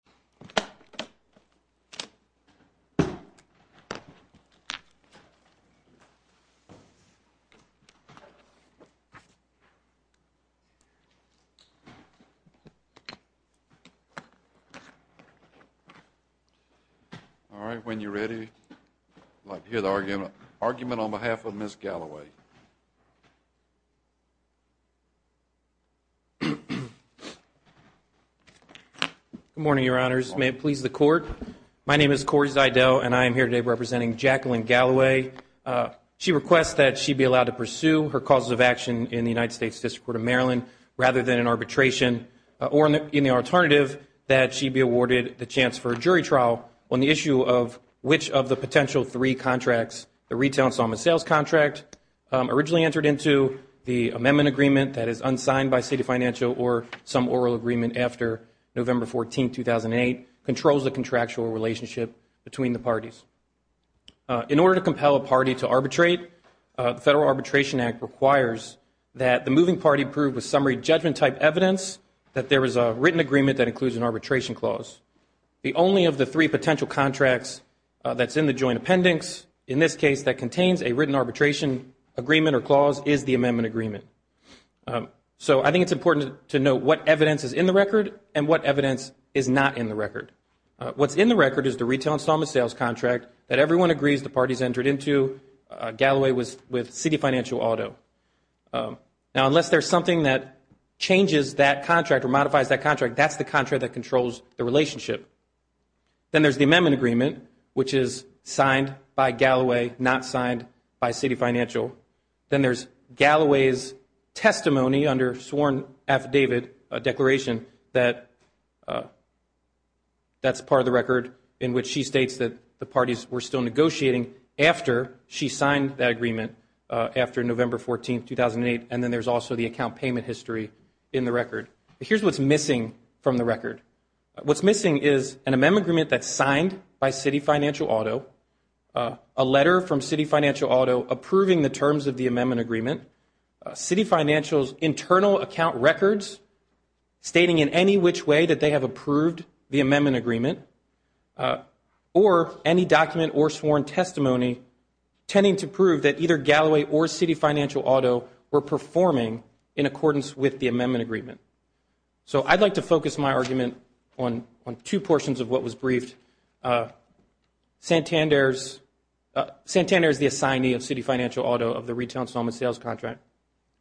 Mr. Galloway, on behalf of Ms. Galloway, I would like to hear the argument on behalf May it please the Court. My name is Corey Zyedell and I am here today representing Jacqueline Galloway. She requests that she be allowed to pursue her causes of action in the United States District Court of Maryland rather than in arbitration or in the alternative, that she be awarded the chance for a jury trial on the issue of which of the potential three contracts, the retail and salmon sales contract, originally entered into, the amendment agreement, that is unsigned by state financial or some oral agreement after November 14th, 2008, controls the contractual relationship between the parties. In order to compel a party to arbitrate, the Federal Arbitration Act requires that the moving party prove with summary judgment type evidence that there is a written agreement that includes an arbitration clause. The only of the three potential contracts that's in the joint appendix, in this case that contains a written arbitration agreement or clause, is the amendment agreement. So I think it's important to know what evidence is in the record and what evidence is not in the record. What's in the record is the retail and salmon sales contract that everyone agrees the parties entered into. Galloway was with City Financial Auto. Now, unless there's something that changes that contract or modifies that contract, that's the contract that Then there's Galloway's testimony under sworn affidavit declaration that's part of the record in which she states that the parties were still negotiating after she signed that agreement after November 14th, 2008. And then there's also the account payment history in the record. Here's what's missing from the record. What's missing is an amendment agreement that's signed by City Financial Auto, a letter from City Financial Auto to the amendment agreement. City Financial's internal account records stating in any which way that they have approved the amendment agreement or any document or sworn testimony tending to prove that either Galloway or City Financial Auto were performing in accordance with the amendment agreement. So I'd like to focus my argument on two portions of what was briefed. Santander is the assignee of City Financial Auto of the retail installment sales contract.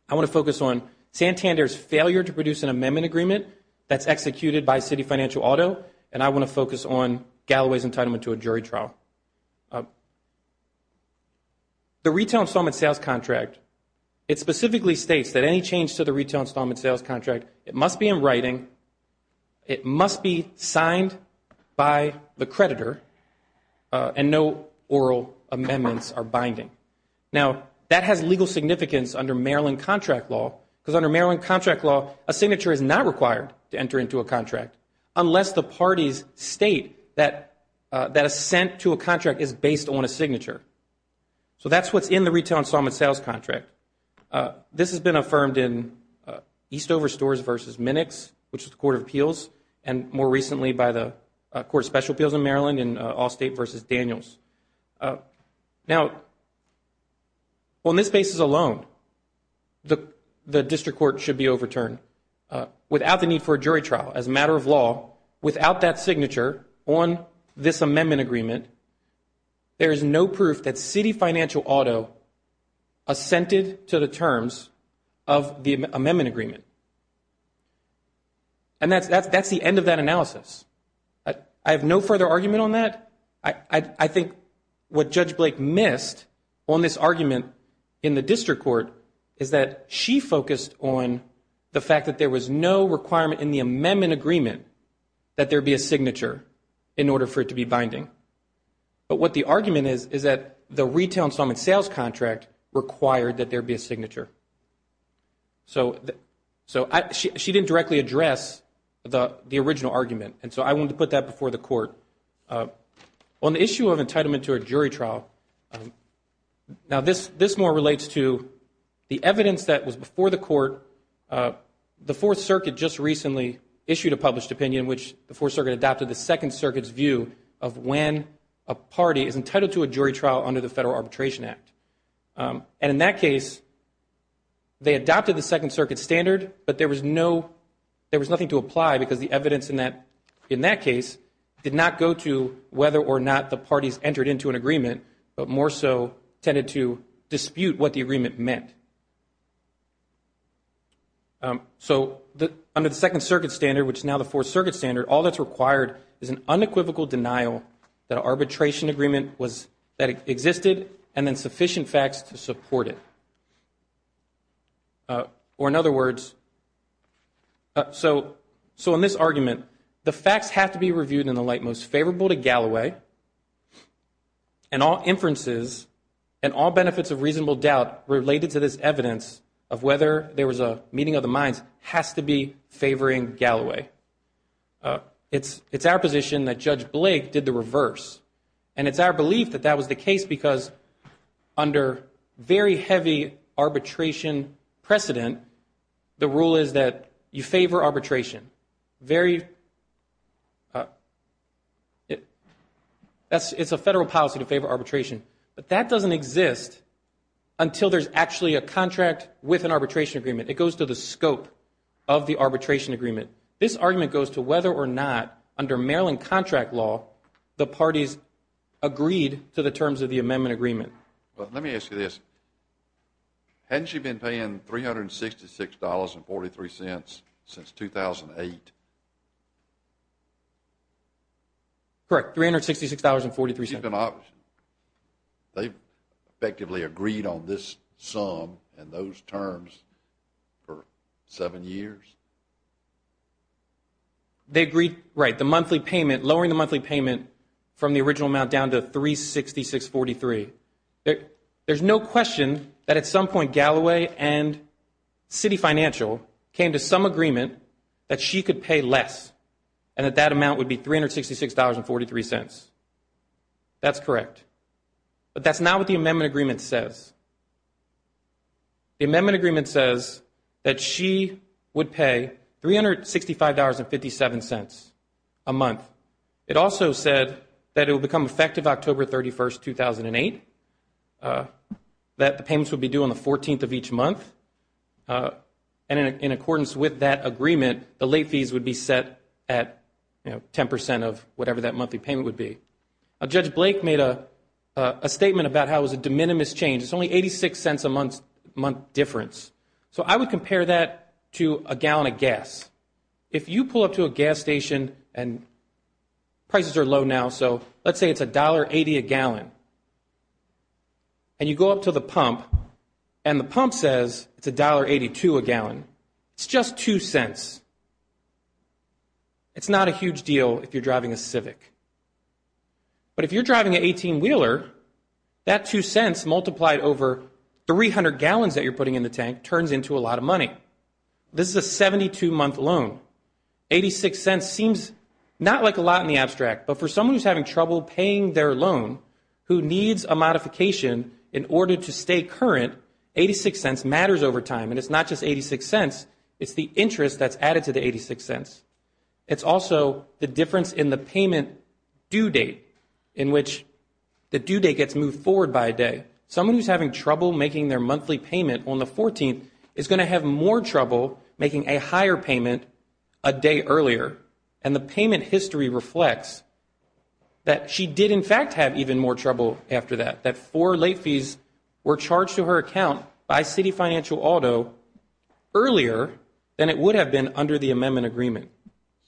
I want to focus on Santander's failure to produce an amendment agreement that's executed by City Financial Auto, and I want to focus on Galloway's entitlement to a jury trial. The retail installment sales contract, it specifically states that any change to the retail installment sales contract, it must be in writing, it must be signed by the creditor, and no oral amendments are binding. Now, that has legal significance under Maryland contract law, because under Maryland contract law, a signature is not required to enter into a contract unless the parties state that assent to a contract is based on a signature. So that's what's in the retail installment sales contract. This has been affirmed in Eastover Stores v. Minix, which is the Court of Appeals, and more recently by the Court of Special Appeals in Maryland in Well, on this basis alone, the district court should be overturned. Without the need for a jury trial, as a matter of law, without that signature on this amendment agreement, there is no proof that City Financial Auto assented to the terms of the amendment agreement. And that's the end of that analysis. I have no further argument on that. I think what Judge Blake missed on this argument in the district court is that she focused on the fact that there was no requirement in the amendment agreement that there be a signature in order for it to be binding. But what the argument is, is that the retail installment sales contract required that there be a signature. So she didn't directly address the original argument, and so I wanted to put that before the Court. On the issue of entitlement to a jury trial, now this more relates to the evidence that was before the Court. The Fourth Circuit just recently issued a published opinion in which the Fourth Circuit adopted the Second Circuit's view of when a party is entitled to a jury trial under the Federal Arbitration Act. And in that case, they adopted the Second Circuit standard, but there was no, there was nothing to apply because the evidence in that, in that case, did not go to whether or not the parties entered into an agreement, but more so tended to dispute what the agreement meant. So under the Second Circuit standard, which is now the Fourth Circuit standard, all that's required is an unequivocal denial that an arbitration agreement existed and then sufficient facts to support it. Or in other words, so in this argument, the facts have to be reviewed in the light most favorable to arbitration. So this evidence of whether there was a meeting of the minds has to be favoring Galloway. It's our position that Judge Blake did the reverse. And it's our belief that that was the case because under very heavy arbitration precedent, the rule is that you favor arbitration. Very, it's a Federal policy to favor a contract with an arbitration agreement. It goes to the scope of the arbitration agreement. This argument goes to whether or not under Maryland contract law, the parties agreed to the terms of the amendment agreement. Let me ask you this. Hadn't you been paying $366.43 since 2008? Correct, $366.43. They've effectively agreed on this sum and those terms for seven years? They agreed, right, the monthly payment, lowering the monthly payment from the original amount down to $366.43. There's no question that at some point That's correct. But that's not what the amendment agreement says. The amendment agreement says that she would pay $365.57 a month. It also said that it would become effective October 31st, 2008, that the payments would be due on the 14th of each month. And in accordance with that agreement, the late fees would be set at 10% of whatever that monthly payment would be. Judge Blake made a statement about how it was a de minimis change. It's only 86 cents a month difference. So I would compare that to a gallon of gas. If you pull up to a gas station and prices are low now, so let's say it's $1.80 a gallon. And you go up to the pump and the pump says it's $1.82 a gallon. It's just two cents. It's not a huge deal if you're driving a Civic. But if you're driving an 18-wheeler, that two cents multiplied over 300 gallons that you're putting in the tank turns into a lot of money. This is a 72-month loan. 86 cents seems not like a lot in the abstract, but for someone who's having trouble paying their loan, who needs a modification in order to stay current, 86 cents matters over time. And it's not just 86 cents, it's the interest that's added to the 86 cents. It's also the difference in the payment due date in which the due date gets moved forward by a day. Someone who's having trouble making their monthly payment on the 14th she did, in fact, have even more trouble after that. That four late fees were charged to her account by Citi Financial Auto earlier than it would have been under the amendment agreement.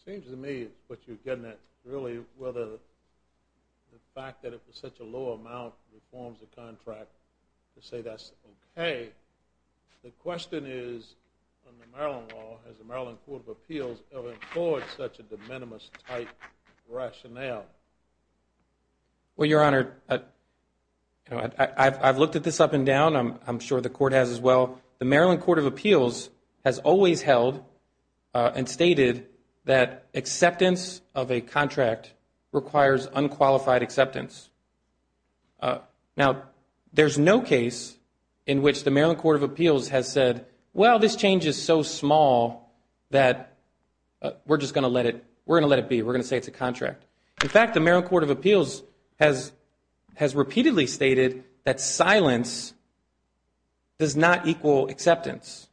It seems to me what you're getting at is really whether the fact that it was such a low amount reforms the contract to say that's okay. The question is, under Maryland law, has the Maryland Court of Appeals ever employed such a de minimis type rationale? Well, Your Honor, I've looked at this up and down. I'm sure the Court has as well. The Maryland Court of Appeals has always held and stated that acceptance of a contract requires unqualified acceptance. Now, there's no case in which the Maryland Court of Appeals has said, well, this change is so small that we're just going to let it, we're going to let it be, we're going to say it's a contract. In fact, the Maryland Court of Appeals has repeatedly stated that silence does not equal acceptance.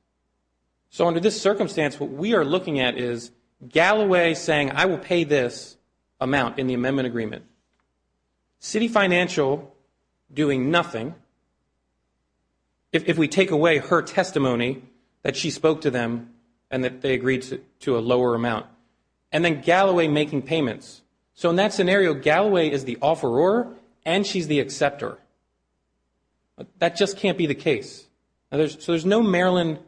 So under this circumstance, what we are looking at is Galloway saying I will pay this amount in the amendment agreement. Citi Financial doing nothing, if we take away her testimony that she spoke to them and that they agreed to a lower amount. And then Galloway making payments. So in that scenario, Galloway is the offeror and she's the acceptor. That just can't be the case. So there's no Maryland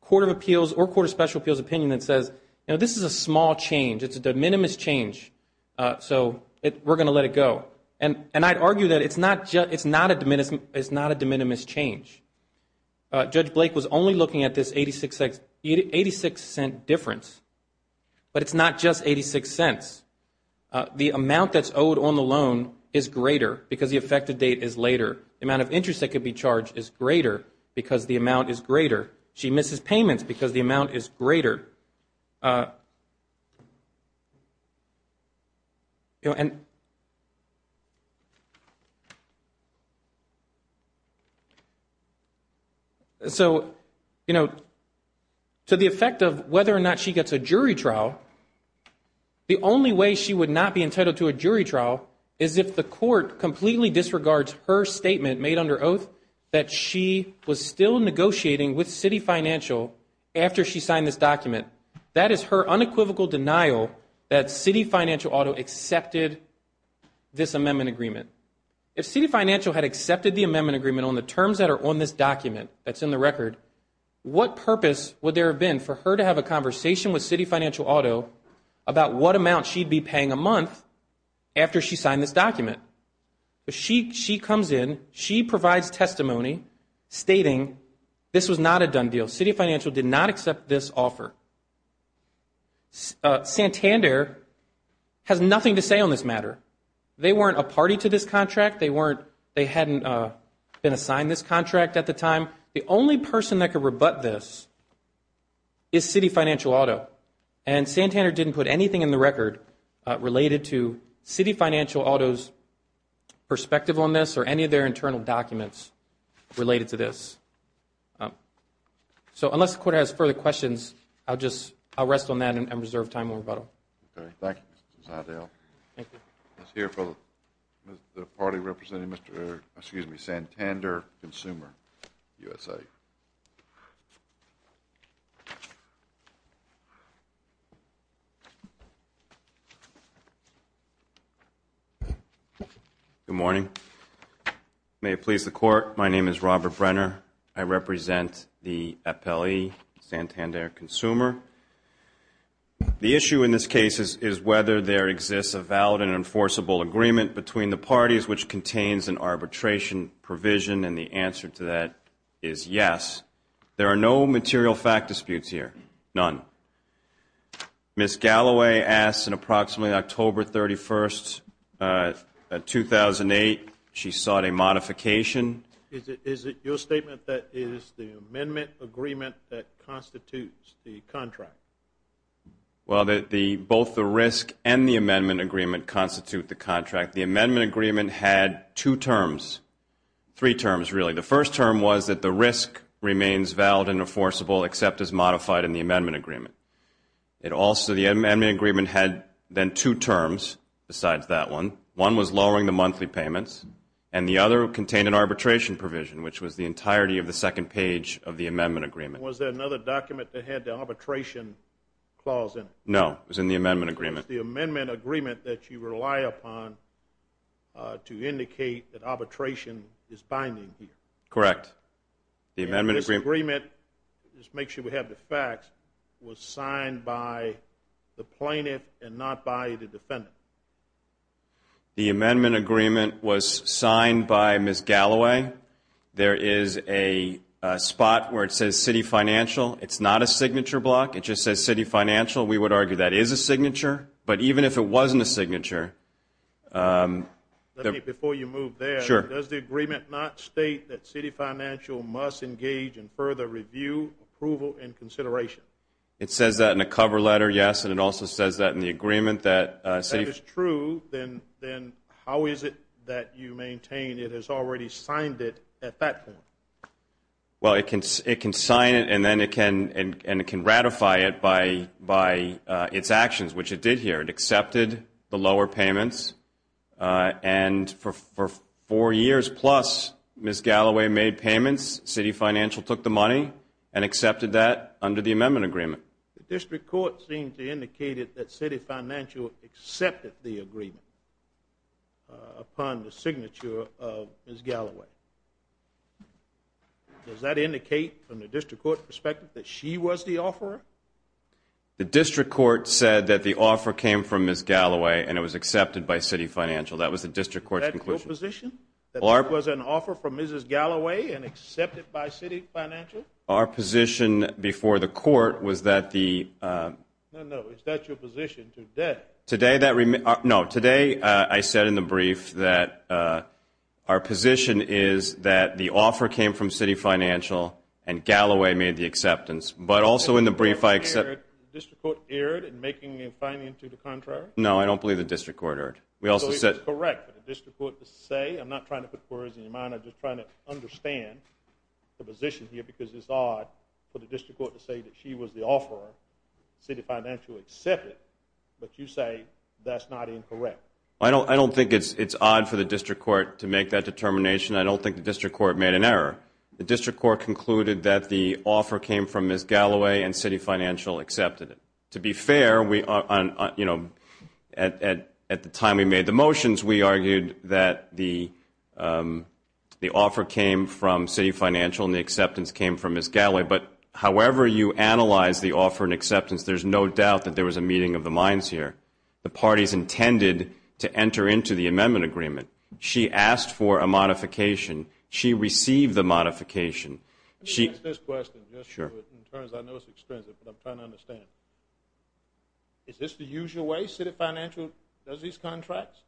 Court of Appeals or Court of Special Appeals opinion that says, you know, this is a small change. It's a de minimis change. So we're going to let it go. And I'd argue that it's not a de minimis change. Judge Blake was only looking at this 86 cent difference. But it's not just 86 cents. The amount that's owed on the loan is greater because the effective date is later. The amount of interest that could be charged is greater because the amount is greater. She misses payments because the amount is greater. And. So, you know. To the effect of whether or not she gets a jury trial. The only way she would not be entitled to a jury trial is if the court completely disregards her statement made under oath that she was still negotiating with Citi Financial after she signed this document. That is her unequivocal denial that Citi Financial Auto accepted this amendment agreement. If Citi Financial had accepted the amendment agreement on the terms that are on this document that's in the record, what purpose would there have been for her to have a conversation with Citi Financial Auto about what amount she'd be paying a month after she signed this document? She comes in, she provides testimony stating this was not a done deal. Citi Financial did not accept this offer. Santander has nothing to say on this matter. They weren't a party to this contract. They hadn't been assigned this contract at the time. The only person that could rebut this is Citi Financial Auto. And Santander didn't put anything in the record related to Citi Financial Auto's perspective on this or any of their internal documents related to this. So, unless the court has further questions, I'll just rest on that and reserve time for rebuttal. Okay. Thank you, Mr. Zantel. Thank you. Let's hear from the party representing Santander Consumer USA. Good morning. May it please the Court, my name is Robert Brenner. I represent the appellee, Santander Consumer. The issue in this case is whether there exists a valid and enforceable agreement between the parties which contains an arbitration provision, and the answer to that is yes. There are no material fact disputes here, none. Ms. Galloway asked in approximately October 31st, 2008, she sought a modification. Is it your statement that it is the amendment agreement that constitutes the contract? Well, both the risk and the amendment agreement constitute the contract. The amendment agreement had two terms, three terms really. The first term was that the risk remains valid and enforceable except as modified in the amendment agreement. It also, the amendment agreement had then two terms besides that one. One was lowering the monthly payments, and the other contained an arbitration provision, which was the entirety of the second page of the amendment agreement. Was there another document that had the arbitration clause in it? No. It was in the amendment agreement. It was the amendment agreement that you rely upon to indicate that arbitration is binding here. Correct. And this agreement, just to make sure we have the facts, was signed by the plaintiff and not by the defendant? The amendment agreement was signed by Ms. Galloway. There is a spot where it says city financial. It's not a signature block. It just says city financial. We would argue that is a signature, but even if it wasn't a signature. Let me, before you move there. Sure. Does the agreement not state that city financial must engage in further review, approval, and consideration? It says that in the cover letter, yes, and it also says that in the agreement that city. If that is true, then how is it that you maintain it has already signed it at that point? Well, it can sign it and then it can ratify it by its actions, which it did here. It accepted the lower payments, and for four years plus, Ms. Galloway made payments. City financial took the money and accepted that under the amendment agreement. The district court seemed to indicate that city financial accepted the agreement upon the signature of Ms. Galloway. Does that indicate from the district court perspective that she was the offeror? The district court said that the offer came from Ms. Galloway and it was accepted by city financial. That was the district court's conclusion. Is that your position, that there was an offer from Ms. Galloway and accepted by city financial? Our position before the court was that the – No, no, is that your position? Today that – no, today I said in the brief that our position is that the offer came from city financial and Galloway made the acceptance, but also in the brief I – The district court erred in making a fine into the contrary? No, I don't believe the district court erred. So it was correct for the district court to say – I'm not trying to put words in your mind. I'm just trying to understand the position here because it's odd for the district court to say that she was the offeror. City financial accepted, but you say that's not incorrect. I don't think it's odd for the district court to make that determination. I don't think the district court made an error. The district court concluded that the offer came from Ms. Galloway and city financial accepted it. To be fair, at the time we made the motions, we argued that the offer came from city financial and the acceptance came from Ms. Galloway, but however you analyze the offer and acceptance, there's no doubt that there was a meeting of the minds here. The parties intended to enter into the amendment agreement. She asked for a modification. She received the modification. Let me ask this question. I know it's extrinsic, but I'm trying to understand. Is this the usual way city financial does these contracts?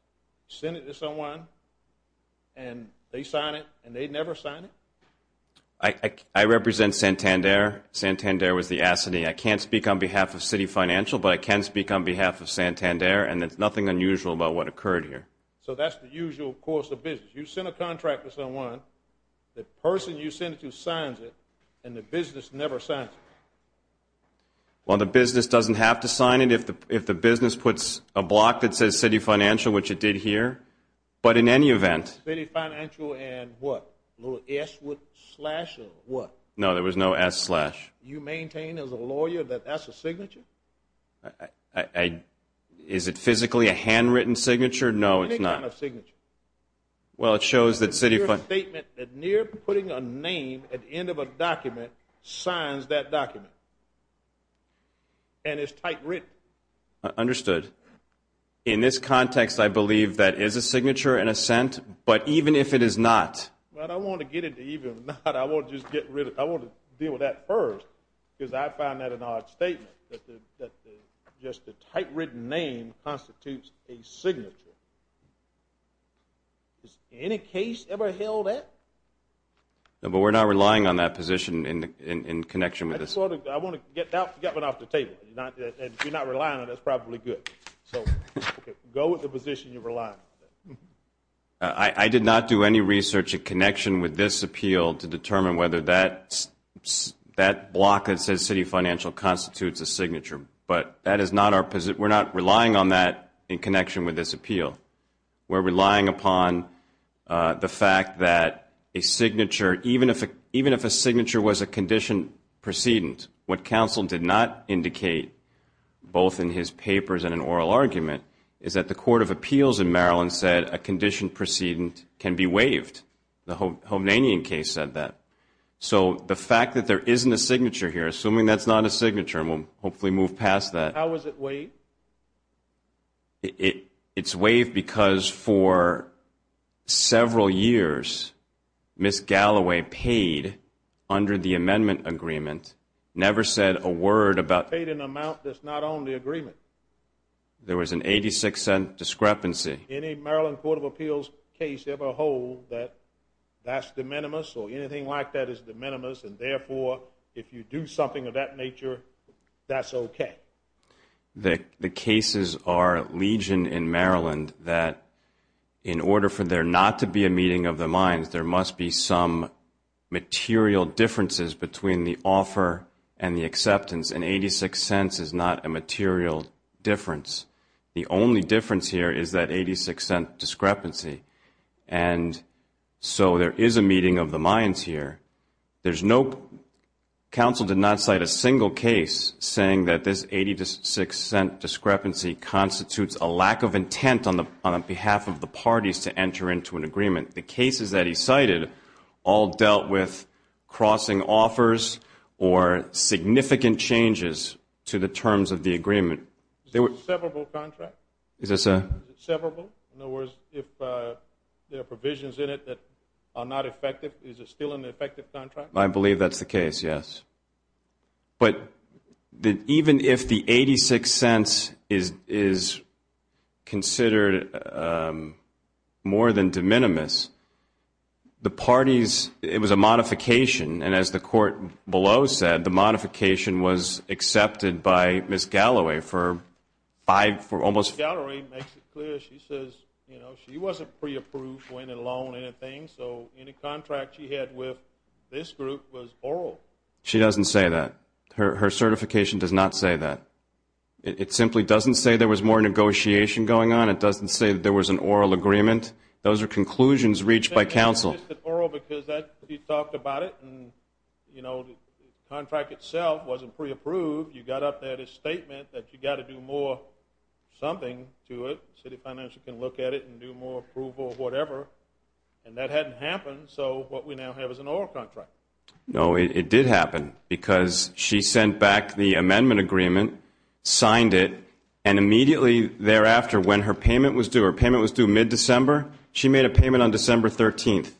Send it to someone and they sign it and they never sign it? I represent Santander. Santander was the assignee. I can't speak on behalf of city financial, but I can speak on behalf of Santander, and there's nothing unusual about what occurred here. So that's the usual course of business. You send a contract to someone, the person you send it to signs it, and the business never signs it? Well, the business doesn't have to sign it if the business puts a block that says city financial, which it did here, but in any event. City financial and what, a little S slash or what? No, there was no S slash. You maintain as a lawyer that that's a signature? Is it physically a handwritten signature? No, it's not. Well, it shows that city financial. It's a statement that near putting a name at the end of a document signs that document, and it's typewritten. Understood. In this context, I believe that is a signature in a sense, but even if it is not. Well, I want to get into even or not. I want to deal with that first because I find that an odd statement, that just the typewritten name constitutes a signature. Has any case ever held that? No, but we're not relying on that position in connection with this. I want to get that one off the table. If you're not relying on it, that's probably good. So go with the position you're relying on. I did not do any research in connection with this appeal to determine whether that block that says city financial constitutes a signature, but that is not our position. We're not relying on that in connection with this appeal. We're relying upon the fact that a signature, even if a signature was a conditioned precedent, what counsel did not indicate, both in his papers and in oral argument, is that the Court of Appeals in Maryland said a conditioned precedent can be waived. The Homanian case said that. So the fact that there isn't a signature here, assuming that's not a signature, and we'll hopefully move past that. How is it waived? It's waived because for several years Ms. Galloway paid under the amendment agreement, never said a word about it. Paid an amount that's not on the agreement. There was an 86-cent discrepancy. Any Maryland Court of Appeals case ever hold that that's de minimis or anything like that is de minimis, and therefore if you do something of that nature, that's okay. The cases are legion in Maryland that in order for there not to be a meeting of the minds, there must be some material differences between the offer and the acceptance, and 86 cents is not a material difference. The only difference here is that 86-cent discrepancy. And so there is a meeting of the minds here. There's no council did not cite a single case saying that this 86-cent discrepancy constitutes a lack of intent on behalf of the parties to enter into an agreement. The cases that he cited all dealt with crossing offers or significant changes to the terms of the agreement. Is it a severable contract? Is this a? Is it severable? In other words, if there are provisions in it that are not effective, is it still an effective contract? I believe that's the case, yes. But even if the 86 cents is considered more than de minimis, the parties, it was a modification, and as the court below said, the modification was accepted by Ms. Galloway for almost. Ms. Galloway makes it clear. She says, you know, she wasn't pre-approved for any loan or anything, so any contract she had with this group was oral. She doesn't say that. Her certification does not say that. It simply doesn't say there was more negotiation going on. It doesn't say that there was an oral agreement. Those are conclusions reached by counsel. It's just an oral because you talked about it, and, you know, the contract itself wasn't pre-approved. You got up there to statement that you've got to do more something to it, so the financial can look at it and do more approval or whatever, and that hadn't happened, so what we now have is an oral contract. No, it did happen because she sent back the amendment agreement, signed it, and immediately thereafter when her payment was due, her payment was due mid-December, she made a payment on December 13th,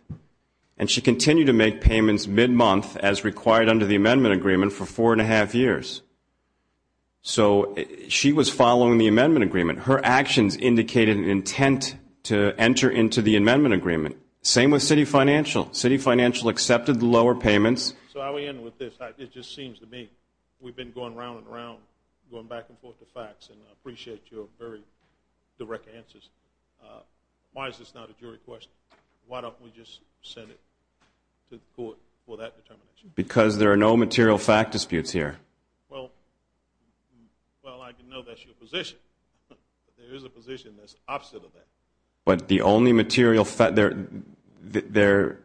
and she continued to make payments mid-month as required under the amendment agreement for four and a half years. So she was following the amendment agreement. Her actions indicated an intent to enter into the amendment agreement. Same with Citi Financial. Citi Financial accepted the lower payments. So how do we end with this? It just seems to me we've been going round and round, going back and forth to facts, and I appreciate your very direct answers. Why is this not a jury question? Why don't we just send it to court for that determination? Because there are no material fact disputes here. Well, I can know that's your position. There is a position that's opposite of that. But the only material fact, there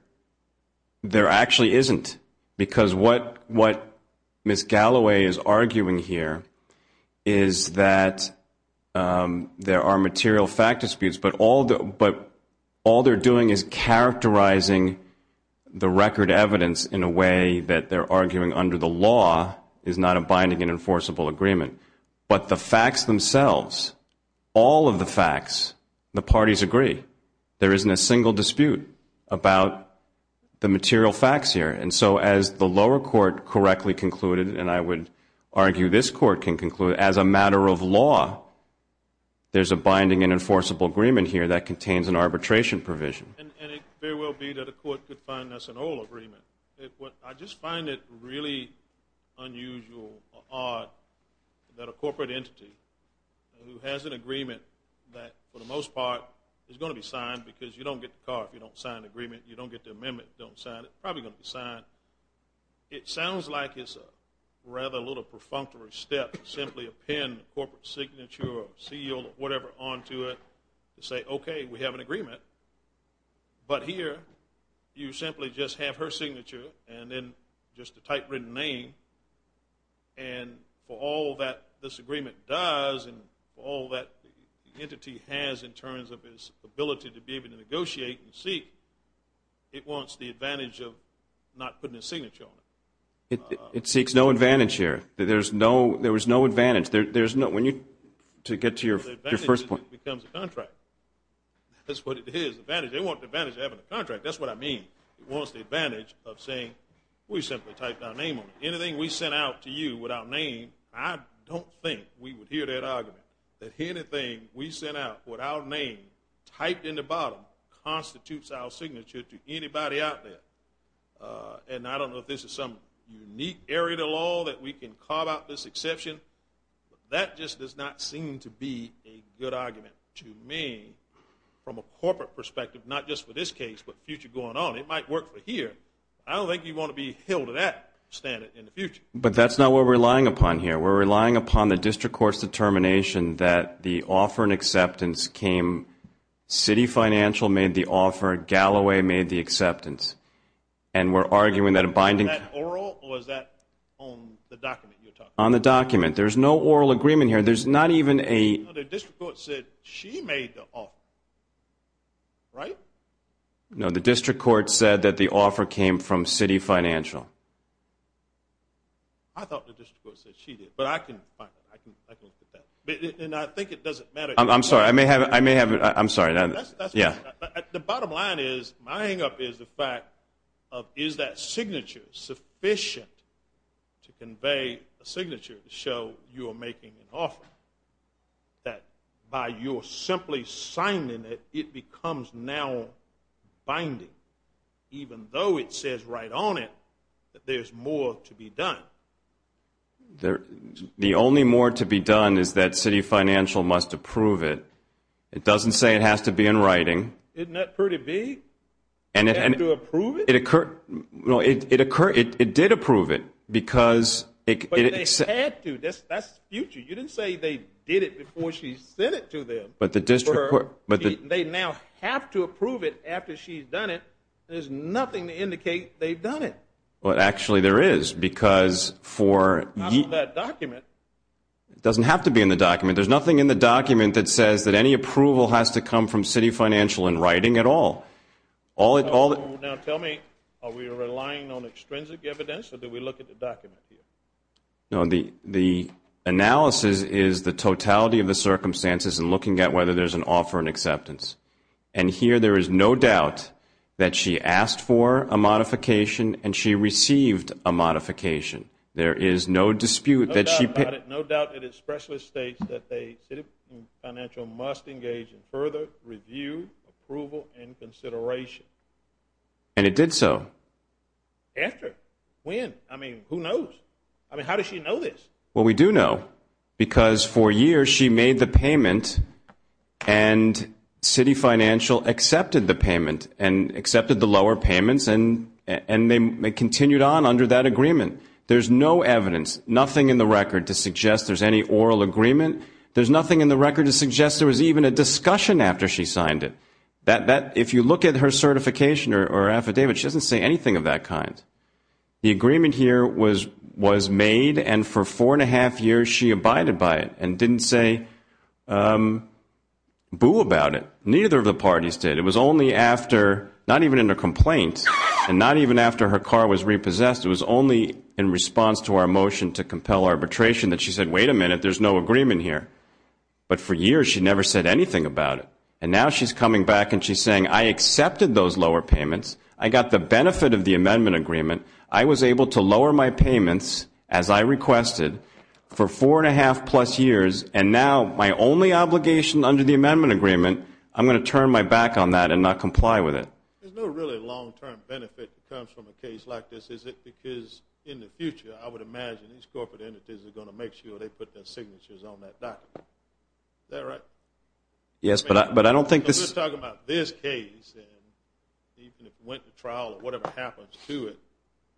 actually isn't, because what Ms. Galloway is arguing here is that there are material fact disputes, but all they're doing is characterizing the record evidence in a way that they're arguing under the law is not a binding and enforceable agreement. But the facts themselves, all of the facts, the parties agree. There isn't a single dispute about the material facts here. And so as the lower court correctly concluded, and I would argue this court can conclude, as a matter of law, there's a binding and enforceable agreement here that contains an arbitration provision. And it very well be that a court could find that's an old agreement. I just find it really unusual or odd that a corporate entity who has an agreement that, for the most part, is going to be signed because you don't get the car if you don't sign the agreement, you don't get the amendment if you don't sign it. It's probably going to be signed. It sounds like it's a rather little perfunctory step to simply append a corporate signature or seal or whatever onto it to say, okay, we have an agreement. But here you simply just have her signature and then just a typewritten name. And for all that this agreement does and all that the entity has in terms of its ability to be able to negotiate and seek, it wants the advantage of not putting a signature on it. It seeks no advantage here. There was no advantage. When you get to your first point. It becomes a contract. That's what it is. They want the advantage of having a contract. That's what I mean. It wants the advantage of saying we simply typed our name on it. Anything we sent out to you with our name, I don't think we would hear that argument, that anything we sent out with our name typed in the bottom constitutes our signature to anybody out there. And I don't know if this is some unique area of the law that we can carve out this exception, but that just does not seem to be a good argument to me from a corporate perspective, not just for this case but future going on. It might work for here. I don't think you want to be held to that standard in the future. But that's not what we're relying upon here. We're relying upon the district court's determination that the offer and acceptance came, Citi Financial made the offer, Galloway made the acceptance, and we're arguing that a binding. Was that oral or was that on the document you were talking about? On the document. There's no oral agreement here. There's not even a... No, the district court said she made the offer, right? No, the district court said that the offer came from Citi Financial. I thought the district court said she did, but I can look at that. And I think it doesn't matter. I'm sorry. I may have it. I'm sorry. Yeah. The bottom line is my hangup is the fact of is that signature sufficient to convey a signature to show you are making an offer, that by your simply signing it, it becomes now binding, even though it says right on it that there's more to be done. The only more to be done is that Citi Financial must approve it. It doesn't say it has to be in writing. Isn't that pretty big? They have to approve it? It did approve it because... But they had to. That's the future. You didn't say they did it before she sent it to them. They now have to approve it after she's done it. There's nothing to indicate they've done it. Well, actually, there is because for... It's not in that document. It doesn't have to be in the document. There's nothing in the document that says that any approval has to come from Citi Financial in writing at all. Now, tell me, are we relying on extrinsic evidence, or did we look at the document here? No, the analysis is the totality of the circumstances and looking at whether there's an offer and acceptance. And here there is no doubt that she asked for a modification and she received a modification. There is no dispute that she... No doubt about it. No doubt that it especially states that Citi Financial must engage in further review, approval, and consideration. And it did so. After? When? I mean, who knows? I mean, how does she know this? Well, we do know because for years she made the payment and Citi Financial accepted the payment and accepted the lower payments and they continued on under that agreement. There's no evidence, nothing in the record to suggest there's any oral agreement. There's nothing in the record to suggest there was even a discussion after she signed it. If you look at her certification or affidavit, she doesn't say anything of that kind. The agreement here was made and for four and a half years she abided by it and didn't say boo about it. Neither of the parties did. It was only after, not even in a complaint, and not even after her car was repossessed, it was only in response to our motion to compel arbitration that she said, wait a minute, there's no agreement here. But for years she never said anything about it. And now she's coming back and she's saying, I accepted those lower payments. I got the benefit of the amendment agreement. I was able to lower my payments, as I requested, for four and a half plus years, and now my only obligation under the amendment agreement, I'm going to turn my back on that and not comply with it. There's no really long-term benefit that comes from a case like this, is it? Because in the future I would imagine these corporate entities are going to make sure they put their signatures on that document. Is that right? Yes, but I don't think this We're talking about this case and even if it went to trial or whatever happens to it,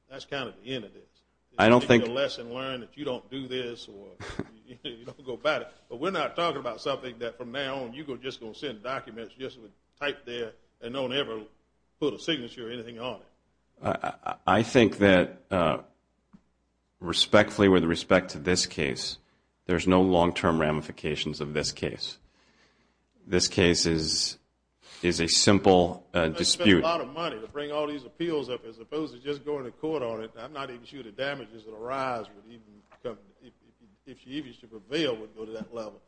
that's kind of the end of it. I don't think It's a lesson learned that you don't do this or you don't go about it. But we're not talking about something that from now on you're just going to send documents, just type there, and don't ever put a signature or anything on it. I think that respectfully, with respect to this case, there's no long-term ramifications of this case. This case is a simple dispute. You're going to spend a lot of money to bring all these appeals up as opposed to just going to court on it. I'm not even sure the damages that arise, if you even should prevail, would go to that level.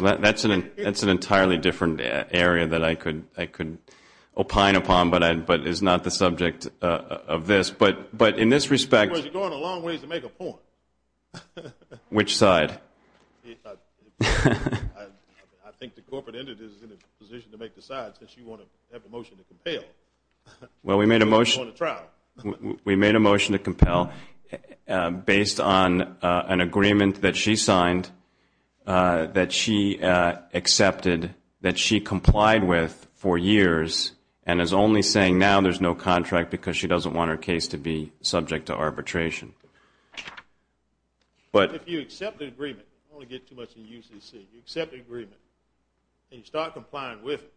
That's an entirely different area that I could opine upon but is not the subject of this. But in this respect Because you're going a long ways to make a point. Which side? I think the corporate entity is in a position to make the side since you want to have a motion to compel. Well, we made a motion to compel based on an agreement that she signed that she accepted, that she complied with for years and is only saying now there's no contract because she doesn't want her case to be subject to arbitration. But if you accept the agreement, I don't want to get too much into UCC, you accept the agreement and you start complying with it,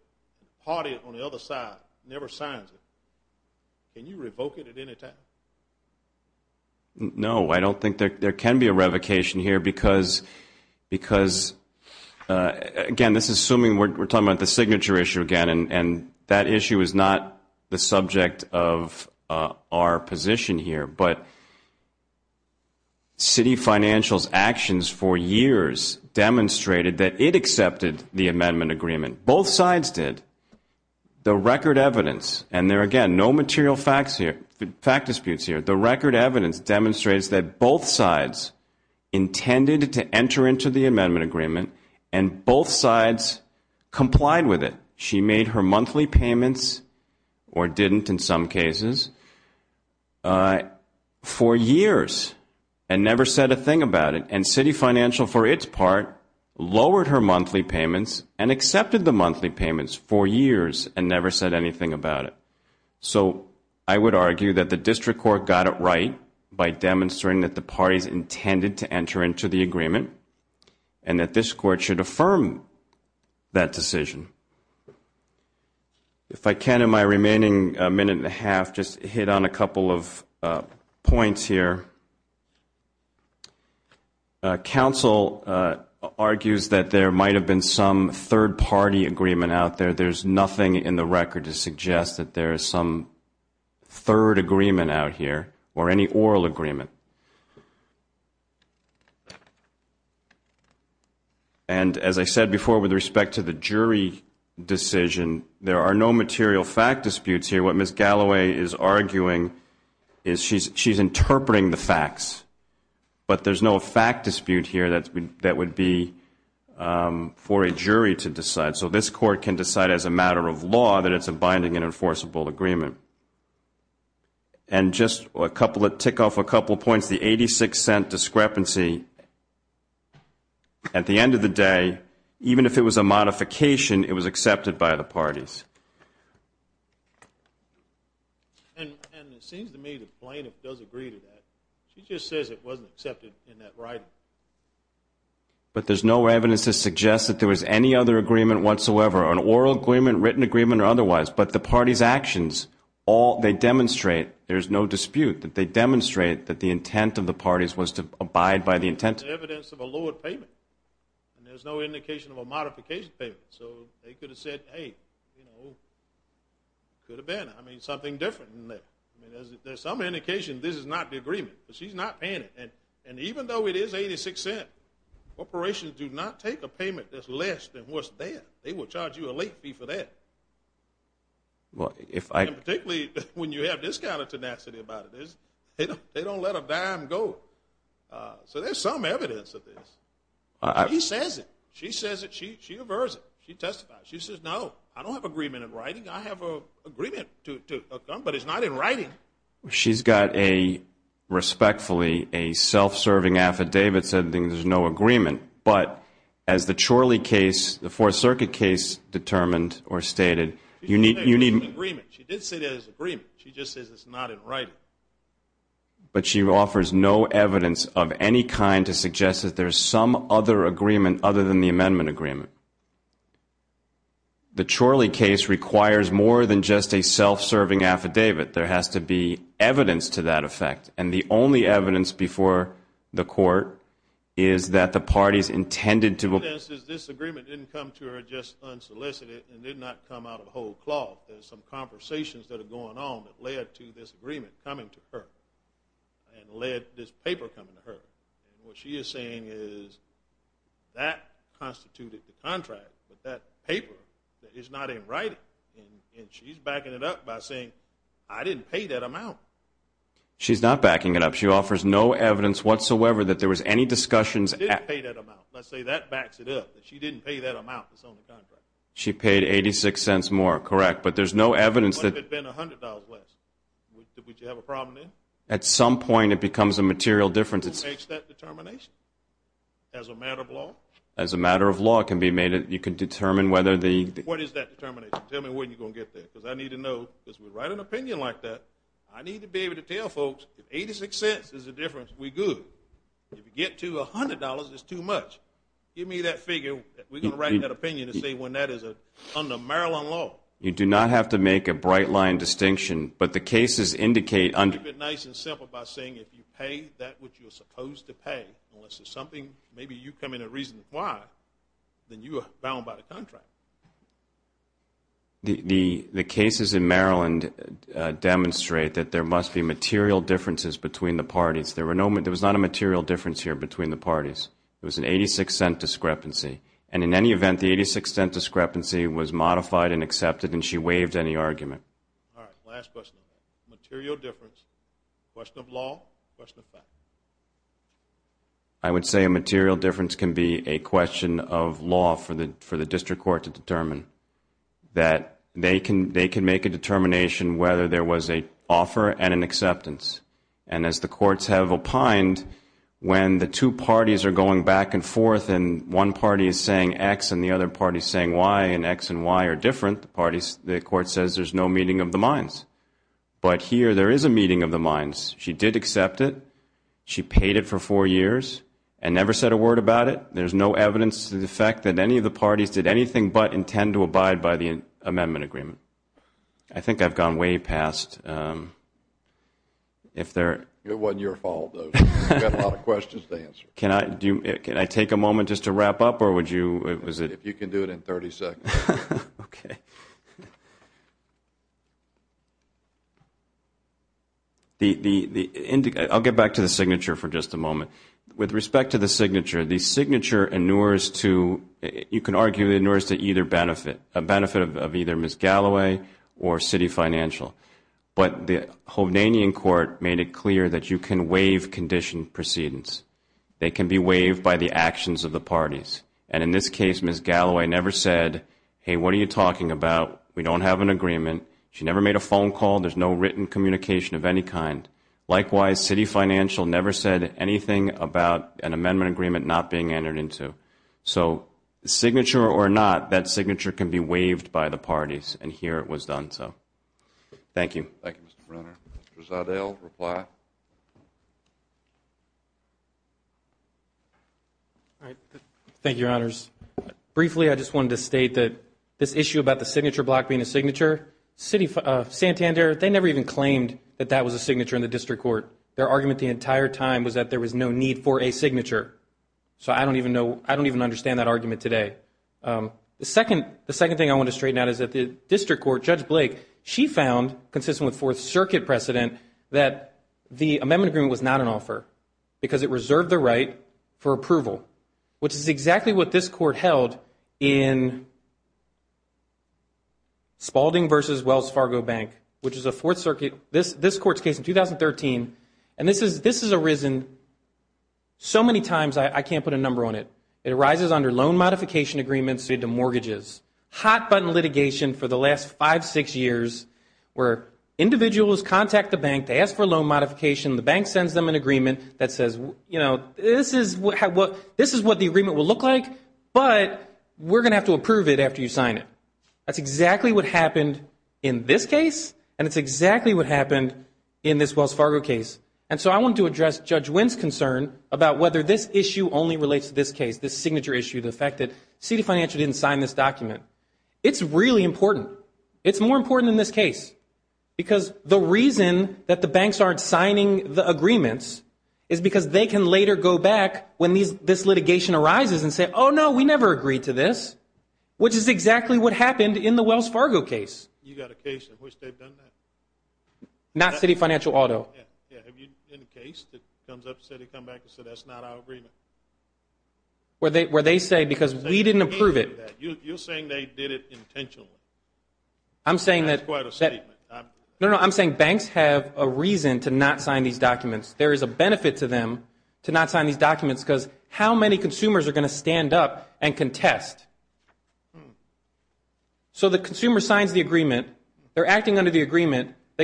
party it on the other side, never signs it, can you revoke it at any time? No, I don't think there can be a revocation here because, again, we're talking about the signature issue again and that issue is not the subject of our position here. But Citi Financial's actions for years demonstrated that it accepted the amendment agreement. Both sides did. The record evidence, and there, again, no material facts here, fact disputes here, the record evidence demonstrates that both sides intended to enter into the amendment agreement and both sides complied with it. She made her monthly payments, or didn't in some cases, for years and never said a thing about it. And Citi Financial, for its part, lowered her monthly payments and accepted the monthly payments for years and never said anything about it. So I would argue that the district court got it right by demonstrating that the parties intended to enter into the agreement and that this court should affirm that decision. If I can, in my remaining minute and a half, just hit on a couple of points here. Council argues that there might have been some third-party agreement out there. But there's nothing in the record to suggest that there is some third agreement out here or any oral agreement. And as I said before, with respect to the jury decision, there are no material fact disputes here. What Ms. Galloway is arguing is she's interpreting the facts, but there's no fact dispute here that would be for a jury to decide. So this court can decide as a matter of law that it's a binding and enforceable agreement. And just to tick off a couple of points, the 86-cent discrepancy, at the end of the day, even if it was a modification, it was accepted by the parties. And it seems to me the plaintiff does agree to that. She just says it wasn't accepted in that writing. But there's no evidence to suggest that there was any other agreement whatsoever, an oral agreement, written agreement, or otherwise. But the parties' actions, all they demonstrate, there's no dispute, that they demonstrate that the intent of the parties was to abide by the intent. Evidence of a lowered payment. And there's no indication of a modification payment. So they could have said, hey, you know, could have been. I mean, something different. I mean, there's some indication this is not the agreement. But she's not paying it. And even though it is 86-cent, corporations do not take a payment that's less than what's there. They will charge you a late fee for that. And particularly when you have this kind of tenacity about it. They don't let a dime go. So there's some evidence of this. She says it. She says it. She averts it. She testifies. She says, no, I don't have an agreement in writing. I have an agreement to come, but it's not in writing. She's got a, respectfully, a self-serving affidavit saying there's no agreement. But as the Chorley case, the Fourth Circuit case, determined or stated, you need to. It's an agreement. She did say that it's an agreement. She just says it's not in writing. But she offers no evidence of any kind to suggest that there's some other agreement other than the amendment agreement. The Chorley case requires more than just a self-serving affidavit. There has to be evidence to that effect. And the only evidence before the court is that the parties intended to. This agreement didn't come to her just unsolicited and did not come out of a whole cloth. There's some conversations that are going on that led to this agreement coming to her and led this paper coming to her. And what she is saying is that constituted the contract, but that paper is not in writing. And she's backing it up by saying, I didn't pay that amount. She's not backing it up. She offers no evidence whatsoever that there was any discussions. I didn't pay that amount. Let's say that backs it up, that she didn't pay that amount that's on the contract. She paid 86 cents more, correct, but there's no evidence that. What if it had been $100 less? Would you have a problem then? At some point, it becomes a material difference. Who makes that determination? As a matter of law? As a matter of law, it can be made. You can determine whether the. What is that determination? Tell me when you're going to get there because I need to know. Because we write an opinion like that, I need to be able to tell folks if 86 cents is the difference, we're good. If you get to $100, it's too much. Give me that figure. We're going to write that opinion and say when that is under Maryland law. You do not have to make a bright line distinction, but the cases indicate under. Keep it nice and simple by saying if you pay that which you're supposed to pay, unless it's something maybe you come in and reason why, then you are bound by the contract. The cases in Maryland demonstrate that there must be material differences between the parties. There was not a material difference here between the parties. It was an 86-cent discrepancy. And in any event, the 86-cent discrepancy was modified and accepted, and she waived any argument. All right, last question. Material difference. Question of law, question of fact. I would say a material difference can be a question of law for the district court to determine, that they can make a determination whether there was an offer and an acceptance. And as the courts have opined, when the two parties are going back and forth and one party is saying X and the other party is saying Y and X and Y are different, the court says there's no meeting of the minds. But here there is a meeting of the minds. She did accept it. She paid it for four years and never said a word about it. There's no evidence to the fact that any of the parties did anything but intend to abide by the amendment agreement. I think I've gone way past. It wasn't your fault, though. You've got a lot of questions to answer. Can I take a moment just to wrap up, or would you? If you can do it in 30 seconds. Okay. I'll get back to the signature for just a moment. With respect to the signature, the signature inures to, you can argue it inures to either benefit, a benefit of either Ms. Galloway or city financial. But the Hounanian court made it clear that you can waive conditioned proceedings. They can be waived by the actions of the parties. And in this case, Ms. Galloway never said, hey, what are you talking about? We don't have an agreement. She never made a phone call. There's no written communication of any kind. Likewise, city financial never said anything about an amendment agreement not being entered into. So signature or not, that signature can be waived by the parties, and here it was done so. Thank you. Thank you, Mr. Brenner. Mr. Zeldale, reply. All right. Thank you, Your Honors. Briefly, I just wanted to state that this issue about the signature block being a signature, Santander, they never even claimed that that was a signature in the district court. Their argument the entire time was that there was no need for a signature. So I don't even know, I don't even understand that argument today. The second thing I want to straighten out is that the district court, Judge Blake, she found consistent with Fourth Circuit precedent that the amendment agreement was not an offer because it reserved the right for approval, which is exactly what this court held in Spaulding v. Wells Fargo Bank, which is a Fourth Circuit, this court's case in 2013, and this has arisen so many times I can't put a number on it. Hot-button litigation for the last five, six years where individuals contact the bank, they ask for a loan modification, the bank sends them an agreement that says, you know, this is what the agreement will look like, but we're going to have to approve it after you sign it. That's exactly what happened in this case, and it's exactly what happened in this Wells Fargo case. And so I want to address Judge Wynn's concern about whether this issue only relates to this case, this signature issue, the fact that City Financial didn't sign this document. It's really important. It's more important than this case because the reason that the banks aren't signing the agreements is because they can later go back when this litigation arises and say, oh, no, we never agreed to this, which is exactly what happened in the Wells Fargo case. You got a case in which they've done that? Not City Financial Auto. Yeah, have you had a case that comes up and they come back and say that's not our agreement? Where they say because we didn't approve it. You're saying they did it intentionally. That's quite a statement. No, no, I'm saying banks have a reason to not sign these documents. There is a benefit to them to not sign these documents because how many consumers are going to stand up and contest? They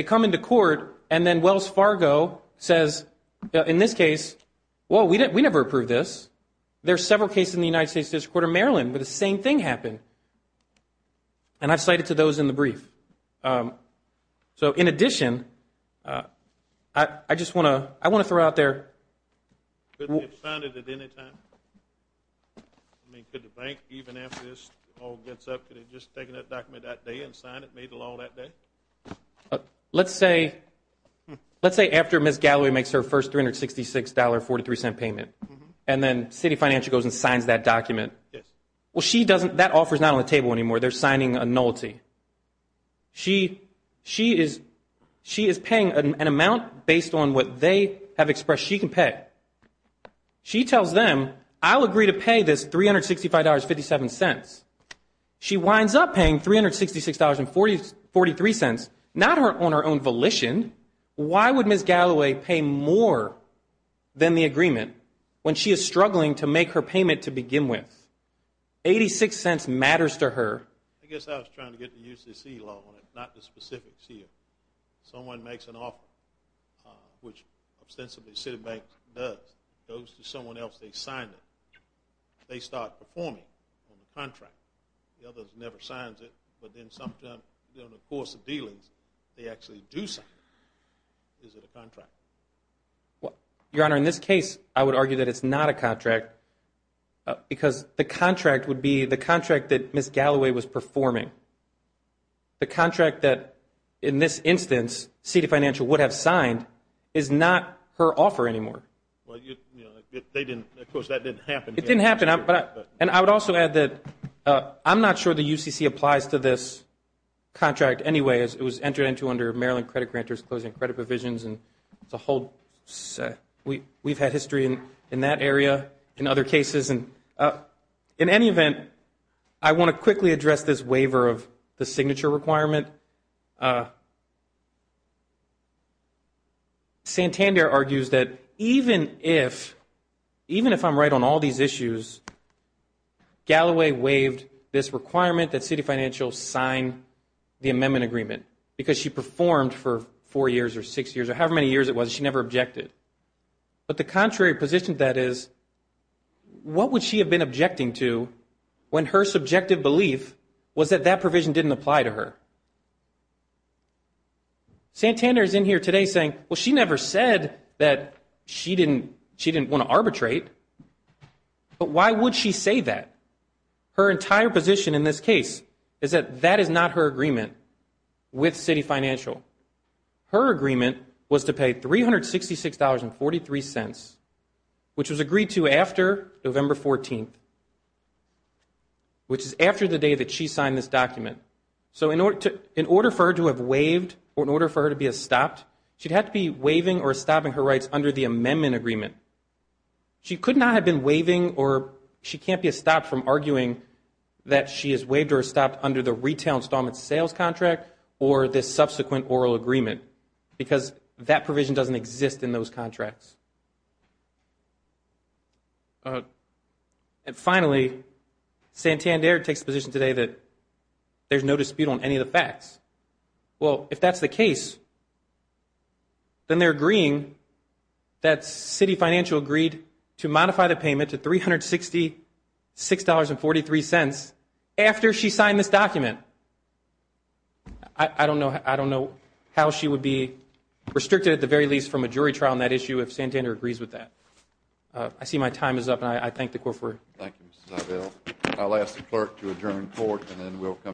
come into court and then Wells Fargo says, in this case, well, we never approved this. There are several cases in the United States District Court of Maryland where the same thing happened, and I've cited to those in the brief. So in addition, I just want to throw out there. Couldn't they have signed it at any time? I mean, could the bank, even after this all gets up, could they have just taken that document that day and signed it, made the law that day? Let's say after Ms. Galloway makes her first $366.43 payment and then City Financial goes and signs that document. Well, that offer is not on the table anymore. They're signing a nullity. She is paying an amount based on what they have expressed she can pay. She tells them, I'll agree to pay this $365.57. She winds up paying $366.43, not on her own volition. Why would Ms. Galloway pay more than the agreement when she is struggling to make her payment to begin with? Eighty-six cents matters to her. I guess I was trying to get the UCC law on it, not the specifics here. Someone makes an offer, which ostensibly Citibank does, goes to someone else, they sign it. They start performing on the contract. The other never signs it, but then sometime during the course of dealings, they actually do sign it. Is it a contract? Your Honor, in this case, I would argue that it's not a contract because the contract would be the contract that Ms. Galloway was performing. The contract that, in this instance, City Financial would have signed is not her offer anymore. They didn't. Of course, that didn't happen. It didn't happen. And I would also add that I'm not sure the UCC applies to this contract anyway. It was entered into under Maryland Credit Granters Closing Credit Provisions. It's a whole – we've had history in that area, in other cases. In any event, I want to quickly address this waiver of the signature requirement. And Santander argues that even if I'm right on all these issues, Galloway waived this requirement that City Financial sign the amendment agreement because she performed for four years or six years or however many years it was. She never objected. But the contrary position to that is, what would she have been objecting to when her subjective belief was that that provision didn't apply to her? Santander is in here today saying, well, she never said that she didn't want to arbitrate. But why would she say that? Her entire position in this case is that that is not her agreement with City Financial. Her agreement was to pay $366.43, which was agreed to after November 14th, which is after the day that she signed this document. So in order for her to have waived or in order for her to be stopped, she'd have to be waiving or stopping her rights under the amendment agreement. She could not have been waiving or she can't be stopped from arguing that she has waived or stopped under the retail installment sales contract or the subsequent oral agreement because that provision doesn't exist in those contracts. And finally, Santander takes the position today that there's no dispute on any of the facts. Well, if that's the case, then they're agreeing that City Financial agreed to modify the payment to $366.43 after she signed this document. I don't know how she would be restricted at the very least from a jury trial on that issue if Santander agrees with that. I see my time is up, and I thank the Court for it. Thank you, Mr. Zabel. I'll ask the Clerk to adjourn the Court, and then we'll come back.